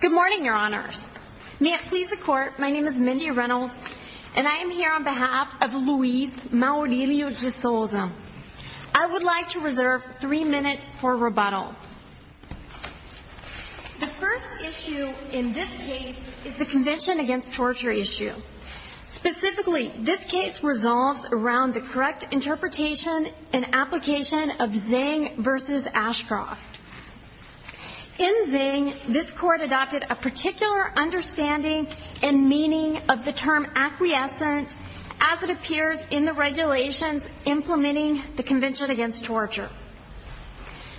Good morning, Your Honors. May it please the Court, my name is Mindy Reynolds, and I am here on behalf of Luis Maurilio de Souza. I would like to reserve three minutes for rebuttal. The first issue in this case is the Convention Against Torture issue. Specifically, this case resolves around the correct interpretation and application of Zhang v. Ashcroft. In Zhang, this Court adopted a particular understanding and meaning of the term acquiescence as it appears in the regulations implementing the Convention Against Torture.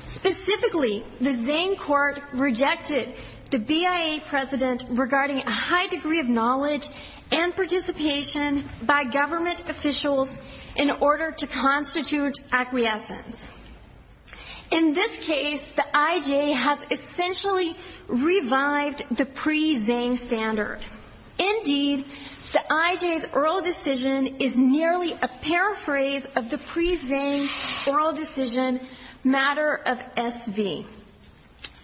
Specifically, the Zhang Court rejected the BIA precedent regarding a high degree of knowledge and participation by government officials in order to constitute acquiescence. In this case, the IJ has essentially revived the pre-Zhang standard. Indeed, the IJ's oral decision is nearly a paraphrase of the pre-Zhang oral decision matter of SV.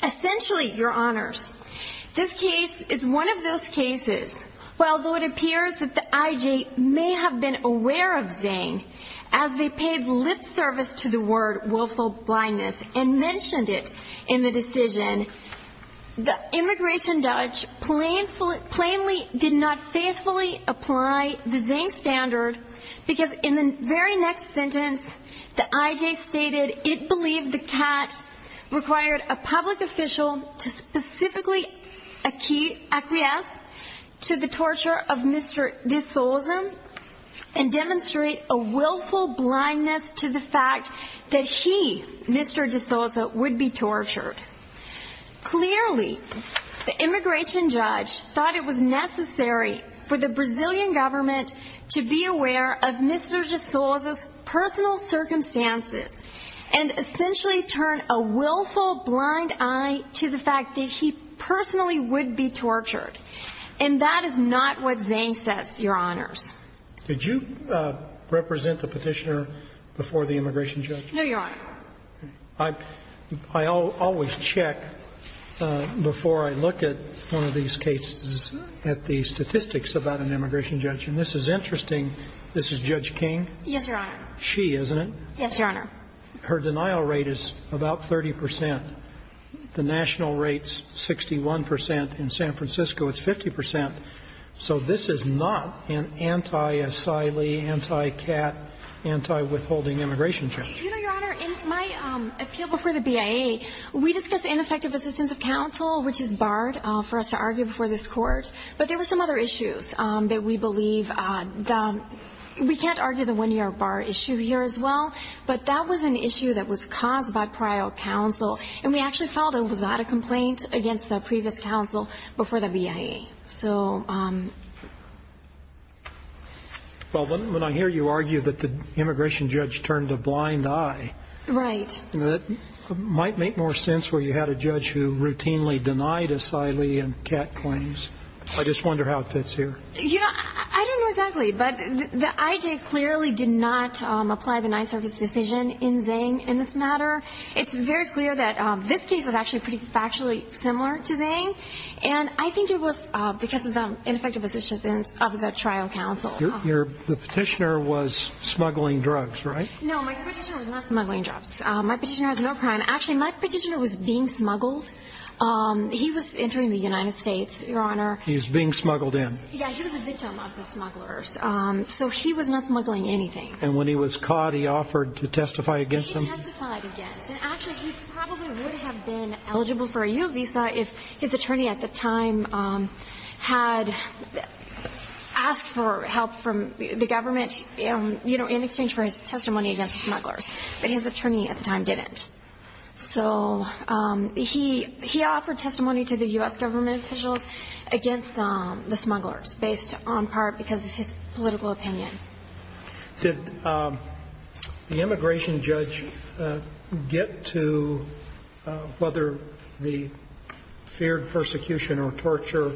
Essentially, Your Honors, this case is one of those cases where although it appears that the IJ may have been aware of Zhang as they paid lip service to the word woeful blindness and mentioned it in the decision, the immigration judge plainly did not faithfully apply the Zhang standard because in the very next sentence, the IJ stated it believed the cat required a public official to specifically acquiesce to the torture of Mr. de Souza and demonstrate a willful blindness to the fact that he, Mr. de Souza, would be tortured. Clearly, the immigration judge thought it was necessary for the Brazilian government to be aware of Mr. de Souza's personal circumstances and essentially turn a willful blind eye to the fact that he personally would be tortured. And that is not what Zhang says, Your Honors. Did you represent the Petitioner before the immigration judge? No, Your Honor. I always check before I look at one of these cases at the statistics about an immigration judge, and this is interesting. This is Judge King. Yes, Your Honor. She, isn't it? Yes, Your Honor. Her denial rate is about 30 percent. The national rate is 61 percent. In San Francisco, it's 50 percent. So this is not an anti-asylee, anti-cat, anti-withholding immigration judge. You know, Your Honor, in my appeal before the BIA, we discussed ineffective assistance of counsel, which is barred for us to argue before this Court. But there were some other issues that we believe, we can't argue the one-year bar issue here as well, but that was an issue that was caused by prior counsel. And we actually filed a Lusada complaint against the previous counsel before the BIA. So... Well, when I hear you argue that the immigration judge turned a blind eye... Right. That might make more sense where you had a judge who routinely denied asylee and cat claims. I just wonder how it fits here. You know, I don't know exactly, but the IJ clearly did not apply the Ninth Circus decision in Zhang in this matter. It's very clear that this case is actually pretty factually similar to Zhang. And I think it was because of the ineffective assistance of the trial counsel. The petitioner was smuggling drugs, right? No, my petitioner was not smuggling drugs. My petitioner has no crime. Actually, my petitioner was being smuggled. He was entering the United States, Your Honor. He was being smuggled in. Yeah, he was a victim of the smugglers. So he was not smuggling anything. And when he was caught, he offered to testify against him? He testified against. And actually, he probably would have been eligible for a U visa if his attorney at the time had asked for help from the government, you know, in exchange for his testimony against the smugglers. But his attorney at the time didn't. So he offered testimony to the U.S. government officials against the smugglers based on part because of his political opinion. Did the immigration judge get to whether the feared persecution or torture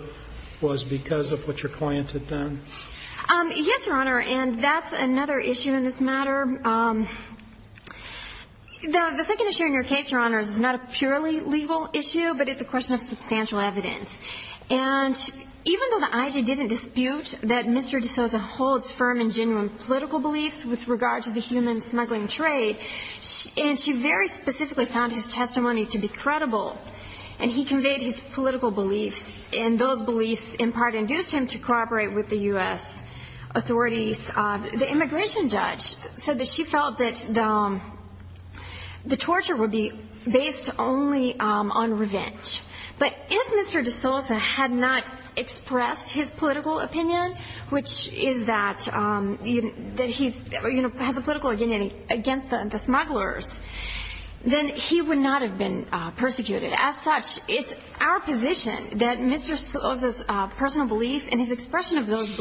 was because of what your client had done? Yes, Your Honor. And that's another issue in this matter. The second issue in your case, Your Honor, is not a purely legal issue, but it's a question of substantial evidence. And even though the IG didn't dispute that Mr. DeSouza holds firm and genuine political beliefs with regard to the human smuggling trade, and she very specifically found his testimony to be credible, and he conveyed his political beliefs, and those beliefs in part induced him to cooperate with the U.S. authorities, the immigration judge said that she felt that the torture would be based only on revenge. But if Mr. DeSouza had not expressed his political opinion, which is that he has a political opinion against the smugglers, then he would not have been persecuted. As such, it's our position that Mr. DeSouza's personal belief and his expression of those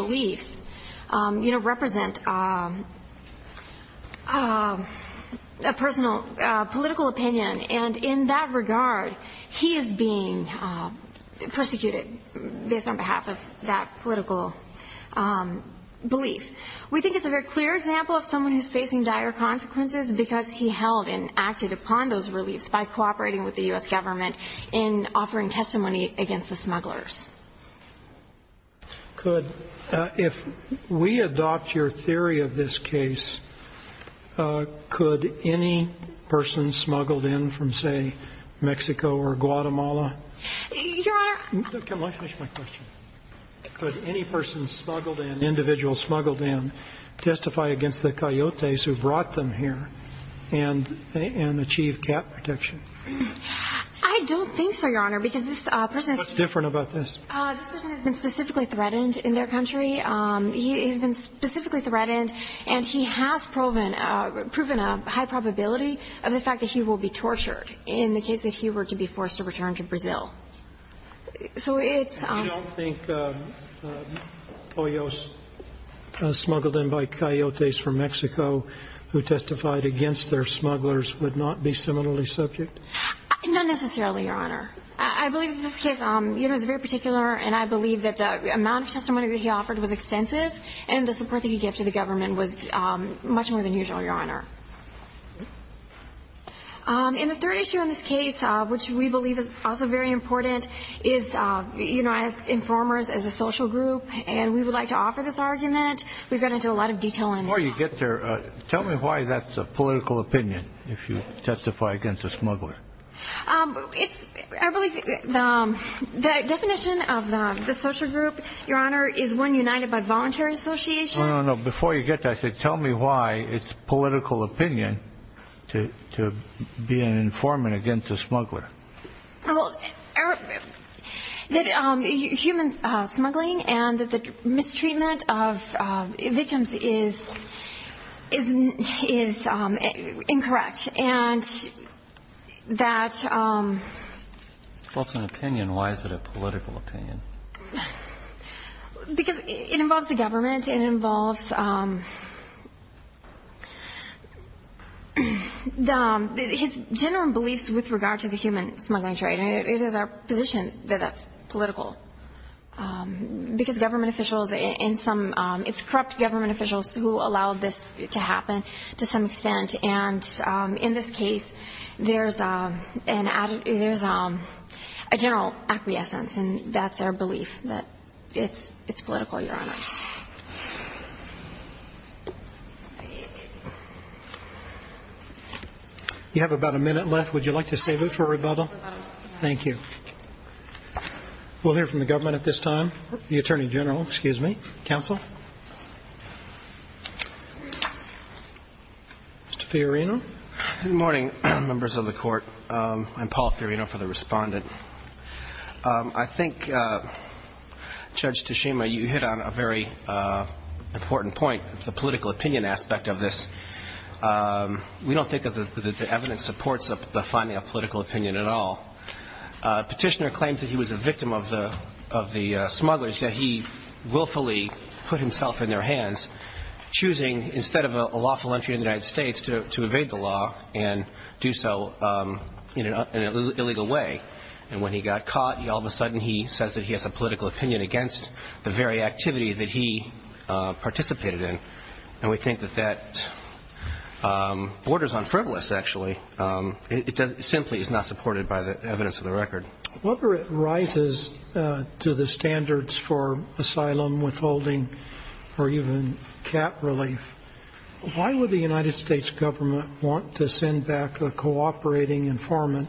being persecuted based on behalf of that political belief. We think it's a very clear example of someone who's facing dire consequences because he held and acted upon those reliefs by cooperating with the U.S. government in offering testimony against the smugglers. Good. If we adopt your theory of this case, could any person smuggled in from, say, Mexico or Guatemala? Your Honor. Can I finish my question? Could any person smuggled in, individual smuggled in, testify against the coyotes who brought them here and achieve cap protection? I don't think so, Your Honor, because this person has been specifically threatened in their country. He has been specifically threatened, and he has proven a high probability of the fact that he were to be forced to return to Brazil. So it's – You don't think Poyos smuggled in by coyotes from Mexico who testified against their smugglers would not be similarly subject? Not necessarily, Your Honor. I believe that this case is very particular, and I believe that the amount of testimony that he offered was extensive, and the support that he gave to the government was much more than usual, Your Honor. And the third issue in this case, which we believe is also very important, is, you know, as informers, as a social group, and we would like to offer this argument. We've gone into a lot of detail on that. Before you get there, tell me why that's a political opinion, if you testify against a smuggler. It's – I believe the definition of the social group, Your Honor, is one united by voluntary association. No, no, no. Before you get there, I said tell me why it's a political opinion to be an informant against a smuggler. Well, that human smuggling and the mistreatment of victims is – is incorrect, and that – If it's an opinion, why is it a political opinion? Because it involves the government, it involves the – his general beliefs with regard to the human smuggling trade, and it is our position that that's political, because government officials in some – it's corrupt government officials who allowed this to happen to some extent. And in this case, there's an – there's a general acquiescence, and that's our belief that it's – it's political, Your Honors. You have about a minute left. Would you like to save it for rebuttal? Thank you. We'll hear from the government at this time. The Attorney General, excuse me, counsel. Mr. Fiorino? Good morning, members of the Court. I'm Paul Fiorino for the Respondent. I think, Judge Tashima, you hit on a very important point, the political opinion aspect of this. We don't think that the – that the evidence supports the finding of political opinion at all. Petitioner claims that he was a victim of the smugglers, yet he willfully put himself in their hands, choosing, instead of a lawful entry in the United States, to evade the law and do so in an illegal way. And when he got caught, all of a sudden he says that he has a political opinion against the very activity that he participated in. And we think that that borders on frivolous, actually. It simply is not supported by the evidence of the record. Whatever rises to the standards for asylum, withholding, or even cap relief, why would the United States government want to send back a cooperating informant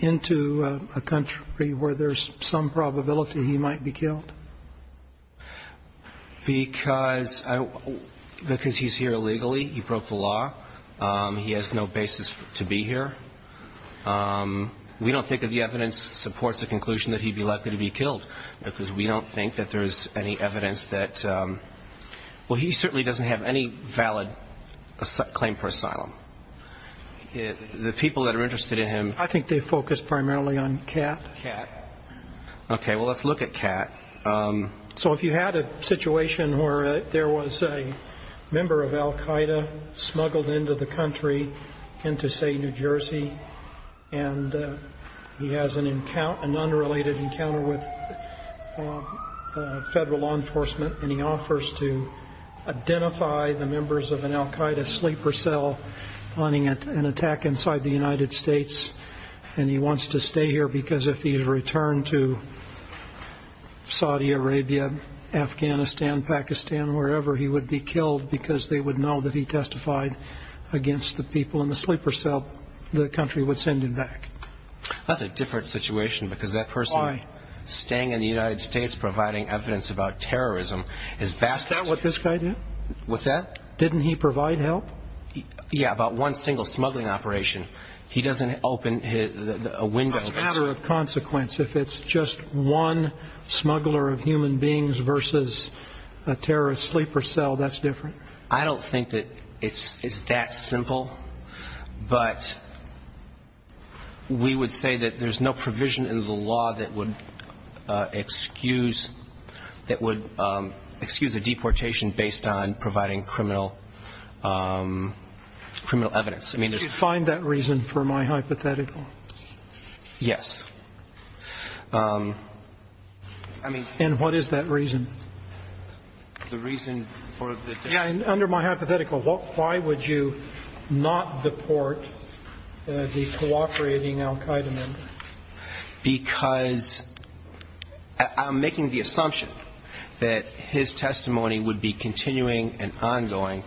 into a country where there's some probability he might be killed? Because he's here illegally. He broke the law. He has no basis to be here. We don't think that the evidence supports the conclusion that he'd be likely to be killed, because we don't think that there's any evidence that – well, he certainly doesn't have any valid claim for asylum. The people that are interested in him – I think they focus primarily on Kat. Kat. Okay, well, let's look at Kat. So if you had a situation where there was a member of Al-Qaeda smuggled into the country, into, say, New Jersey, and he has an unrelated encounter with federal law enforcement, and he offers to identify the members of an Al-Qaeda sleeper cell planning an attack inside the Saudi Arabia, Afghanistan, Pakistan, wherever, he would be killed because they would know that he testified against the people in the sleeper cell the country would send him back. That's a different situation, because that person staying in the United States providing evidence about terrorism is – Is that what this guy did? What's that? Didn't he provide help? Yeah, about one single smuggling operation. He doesn't open a window – As a matter of consequence, if it's just one smuggler of human beings versus a terrorist sleeper cell, that's different? I don't think that it's that simple, but we would say that there's no provision in the law that would excuse – that would excuse a deportation based on providing criminal evidence. I mean – Did you find that reason for my hypothetical? Yes. I mean – And what is that reason? The reason for the – Yeah, and under my hypothetical, why would you not deport the cooperating Al-Qaeda member? Because I'm making the assumption that his testimony would be continuing and ongoing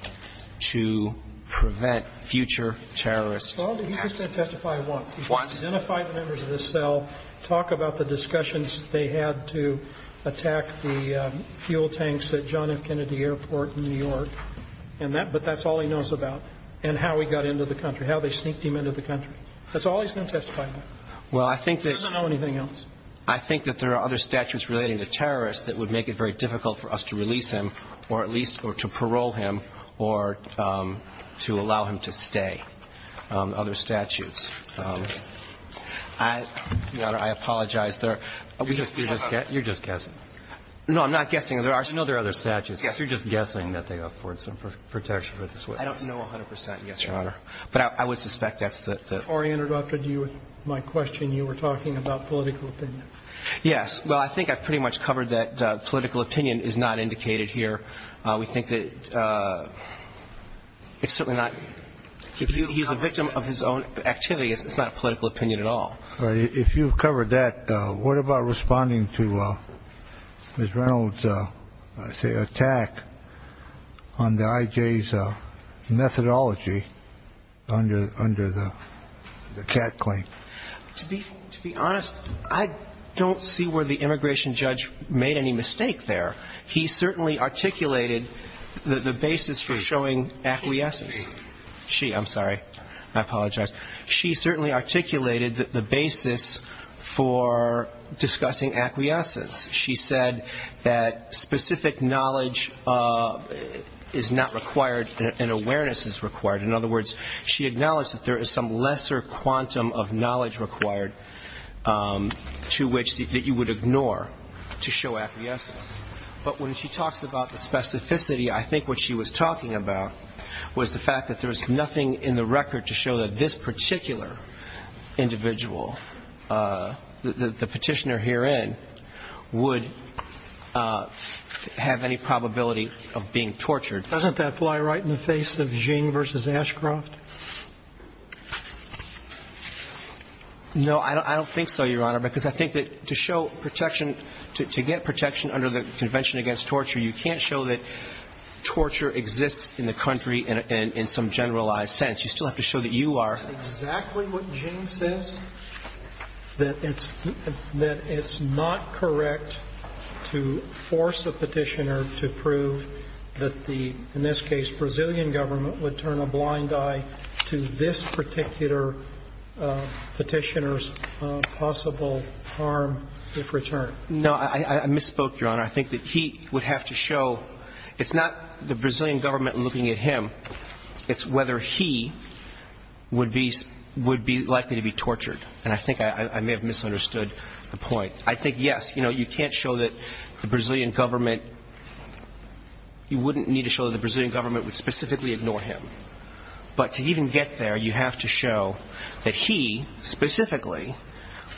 to prevent future terrorist attacks. Well, he's just going to testify once. He's going to identify the members of the cell, talk about the discussions they had to attack the fuel tanks at John F. Kennedy Airport in New York, and that – but that's all he knows about, and how he got into the country, how they sneaked him into the country. That's all he's going to testify about. Well, I think that – He doesn't know anything else. I think that there are other statutes relating to terrorists that would make it very difficult for us to release him or at least – or to parole him or to allow him to stay. Other statutes. Your Honor, I apologize. There are – You're just guessing. No, I'm not guessing. There are – You know there are other statutes. Yes. You're just guessing that they afford some protection for this witness. I don't know 100 percent, yes, Your Honor. But I would suspect that's the – Before I interrupted you with my question, you were talking about political opinion. Yes. Well, I think I've pretty much covered that political opinion is not indicated here. We think that it's certainly not – He's a victim of his own activity. It's not a political opinion at all. If you've covered that, what about responding to Ms. Reynolds' attack on the IJ's methodology under the Cat claim? To be honest, I don't see where the immigration judge made any mistake there. He certainly articulated the basis for showing acquiescence. She – I'm sorry. I apologize. She certainly articulated the basis for discussing acquiescence. She said that specific knowledge is not required and awareness is required. In other words, she acknowledged that there is some lesser quantum of knowledge required to which – that you would ignore to show acquiescence. But when she talks about the specificity, I think what she was talking about was the fact that there was nothing in the record to show that this particular individual, the petitioner herein, would have any probability of being tortured. Doesn't that fly right in the face of Ging v. Ashcroft? No, I don't think so, Your Honor, because I think that to show protection – to get protection under the Convention Against Torture, you can't show that torture exists in the country in some generalized sense. You still have to show that you are. Isn't that exactly what Ging says? That it's not correct to force a petitioner to prove that the – to this particular petitioner's possible harm if returned. No, I misspoke, Your Honor. I think that he would have to show – it's not the Brazilian government looking at him. It's whether he would be likely to be tortured. And I think I may have misunderstood the point. I think, yes, you know, you can't show that the Brazilian government – you wouldn't need to show that the Brazilian government would specifically ignore him. But to even get there, you have to show that he specifically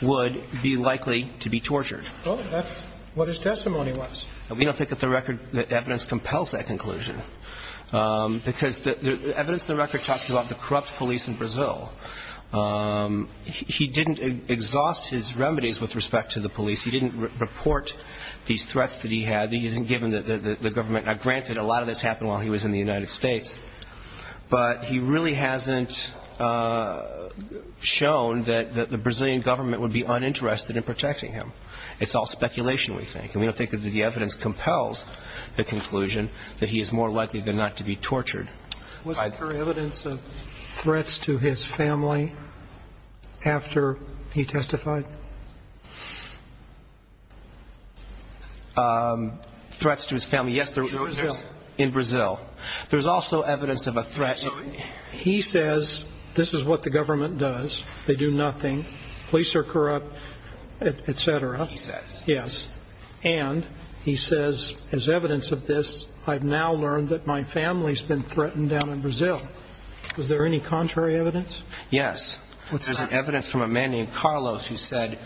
would be likely to be tortured. Well, that's what his testimony was. We don't think that the record – that evidence compels that conclusion because the evidence in the record talks about the corrupt police in Brazil. He didn't exhaust his remedies with respect to the police. He didn't report these threats that he had. He didn't give them to the government. Now, granted, a lot of this happened while he was in the United States. But he really hasn't shown that the Brazilian government would be uninterested in protecting him. It's all speculation, we think. And we don't think that the evidence compels the conclusion that he is more likely than not to be tortured. Was there evidence of threats to his family after he testified? Threats to his family, yes. In Brazil. In Brazil. There's also evidence of a threat – He says, this is what the government does. They do nothing. Police are corrupt, et cetera. He says. Yes. And he says, as evidence of this, I've now learned that my family's been threatened down in Brazil. Was there any contrary evidence? Yes. There's evidence from a man named Carlos who says,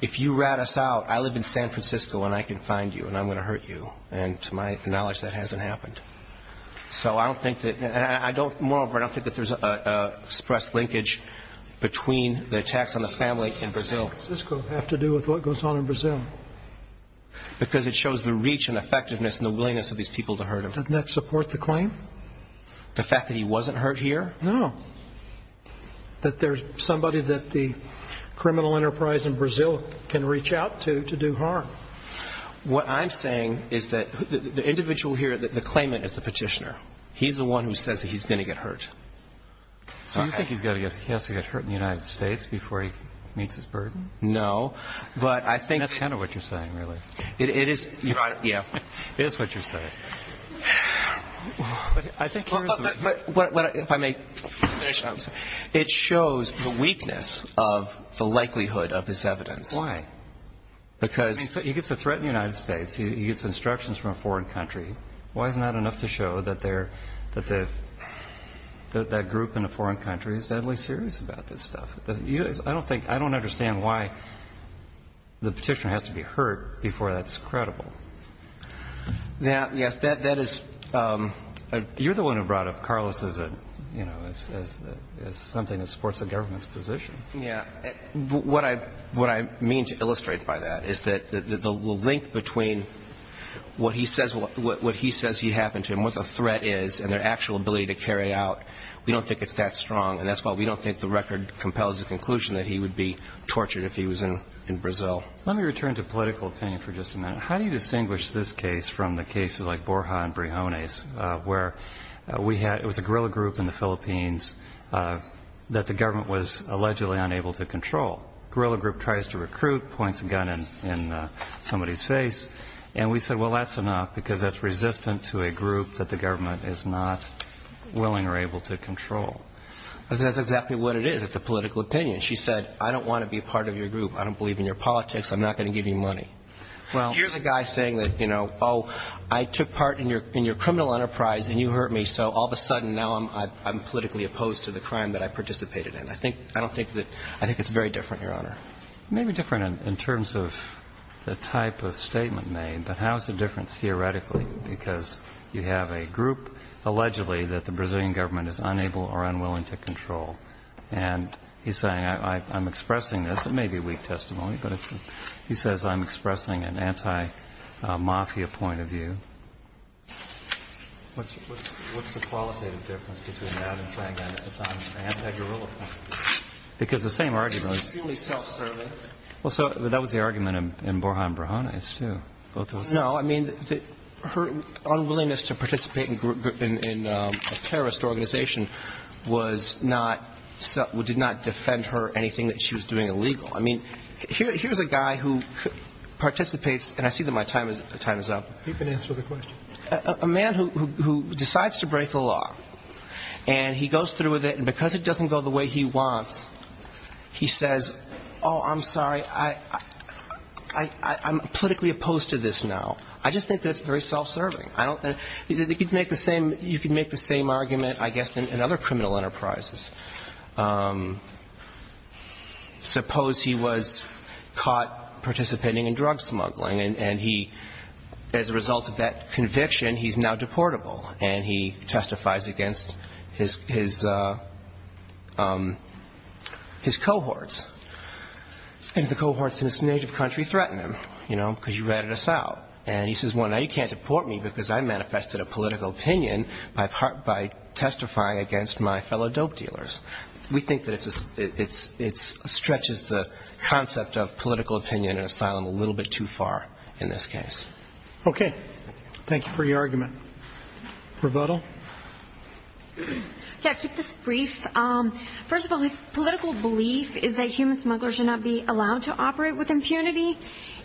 if you rat us out, I live in San Francisco and I can find you and I'm going to hurt you. And to my knowledge, that hasn't happened. So I don't think that – I don't – moreover, I don't think that there's an express linkage between the attacks on the family in Brazil. What does San Francisco have to do with what goes on in Brazil? Because it shows the reach and effectiveness and the willingness of these people to hurt him. Doesn't that support the claim? The fact that he wasn't hurt here? No. That there's somebody that the criminal enterprise in Brazil can reach out to to do harm? What I'm saying is that the individual here, the claimant is the petitioner. He's the one who says that he's going to get hurt. So you think he has to get hurt in the United States before he meets his burden? No. But I think – That's kind of what you're saying, really. It is – yeah. It is what you're saying. I think – If I may finish, it shows the weakness of the likelihood of this evidence. Why? Because – He gets a threat in the United States. He gets instructions from a foreign country. Why is it not enough to show that they're – that that group in a foreign country is deadly serious about this stuff? I don't think – I don't understand why the petitioner has to be hurt before that's credible. Yes. That is – You're the one who brought up Carlos as a – as something that supports the government's position. Yeah. What I mean to illustrate by that is that the link between what he says he happened to and what the threat is and their actual ability to carry it out, we don't think it's that strong. And that's why we don't think the record compels the conclusion that he would be tortured if he was in Brazil. Let me return to political opinion for just a minute. How do you distinguish this case from the cases like Borja and Brijones where we had – it was a guerrilla group in the Philippines that the government was allegedly unable to control. Guerrilla group tries to recruit, points a gun in somebody's face. And we said, well, that's enough because that's resistant to a group that the government is not willing or able to control. That's exactly what it is. It's a political opinion. She said, I don't want to be a part of your group. I don't believe in your politics. I'm not going to give you money. Here's a guy saying that, you know, oh, I took part in your criminal enterprise and you hurt me, so all of a sudden now I'm politically opposed to the crime that I participated in. I think – I don't think that – I think it's very different, Your Honor. Maybe different in terms of the type of statement made, but how is it different theoretically? Because you have a group allegedly that the Brazilian government is unable or unwilling to control. And he's saying, I'm expressing this. It may be weak testimony, but it's – he says, I'm expressing an anti-mafia point of view. What's the qualitative difference between that and saying that it's on an anti-guerrilla point of view? Because the same argument – It's purely self-serving. Well, so that was the argument in Borja and Brujones, too. Both of those – No, I mean, her unwillingness to participate in a terrorist organization was not – did not defend her anything that she was doing illegal. I mean, here's a guy who participates – and I see that my time is up. You can answer the question. A man who decides to break the law, and he goes through with it, and because it doesn't go the way he wants, he says, oh, I'm sorry, I'm politically opposed to this now. I just think that's very self-serving. I don't – you could make the same argument, I guess, in other criminal enterprises. Suppose he was caught participating in drug smuggling, and he – as a result of that conviction, he's now deportable, and he testifies against his cohorts. And the cohorts in his native country threaten him, you know, because you ratted us out. And he says, well, now you can't deport me because I manifested a political opinion by testifying against my fellow dope dealers. We think that it stretches the concept of political opinion and asylum a little bit too far in this case. Okay. Thank you for your argument. Rebuttal? Yeah, I'll keep this brief. First of all, his political belief is that human smugglers should not be allowed to operate with impunity,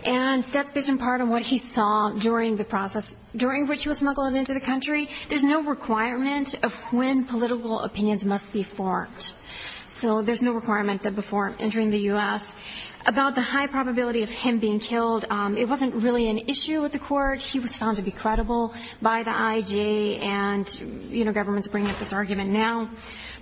and that's based in part on what he saw during the process during which he was smuggled into the country. There's no requirement of when political opinions must be formed. So there's no requirement that before entering the U.S. about the high probability of him being killed. It wasn't really an issue with the court. He was found to be credible by the IG, and, you know, government's bringing up this argument now.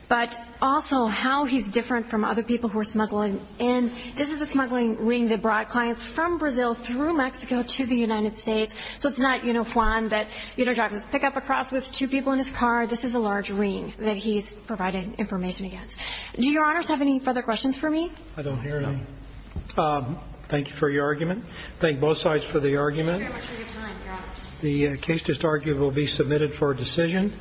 But also how he's different from other people who are smuggling in. This is a smuggling ring that brought clients from Brazil through Mexico to the United States. So it's not, you know, Juan that, you know, drives his pickup across with two people in his car. This is a large ring that he's providing information against. Do Your Honors have any further questions for me? I don't hear any. Thank you for your argument. Thank both sides for the argument. Thank you very much for your time. You're welcome. The case to start will be submitted for decision.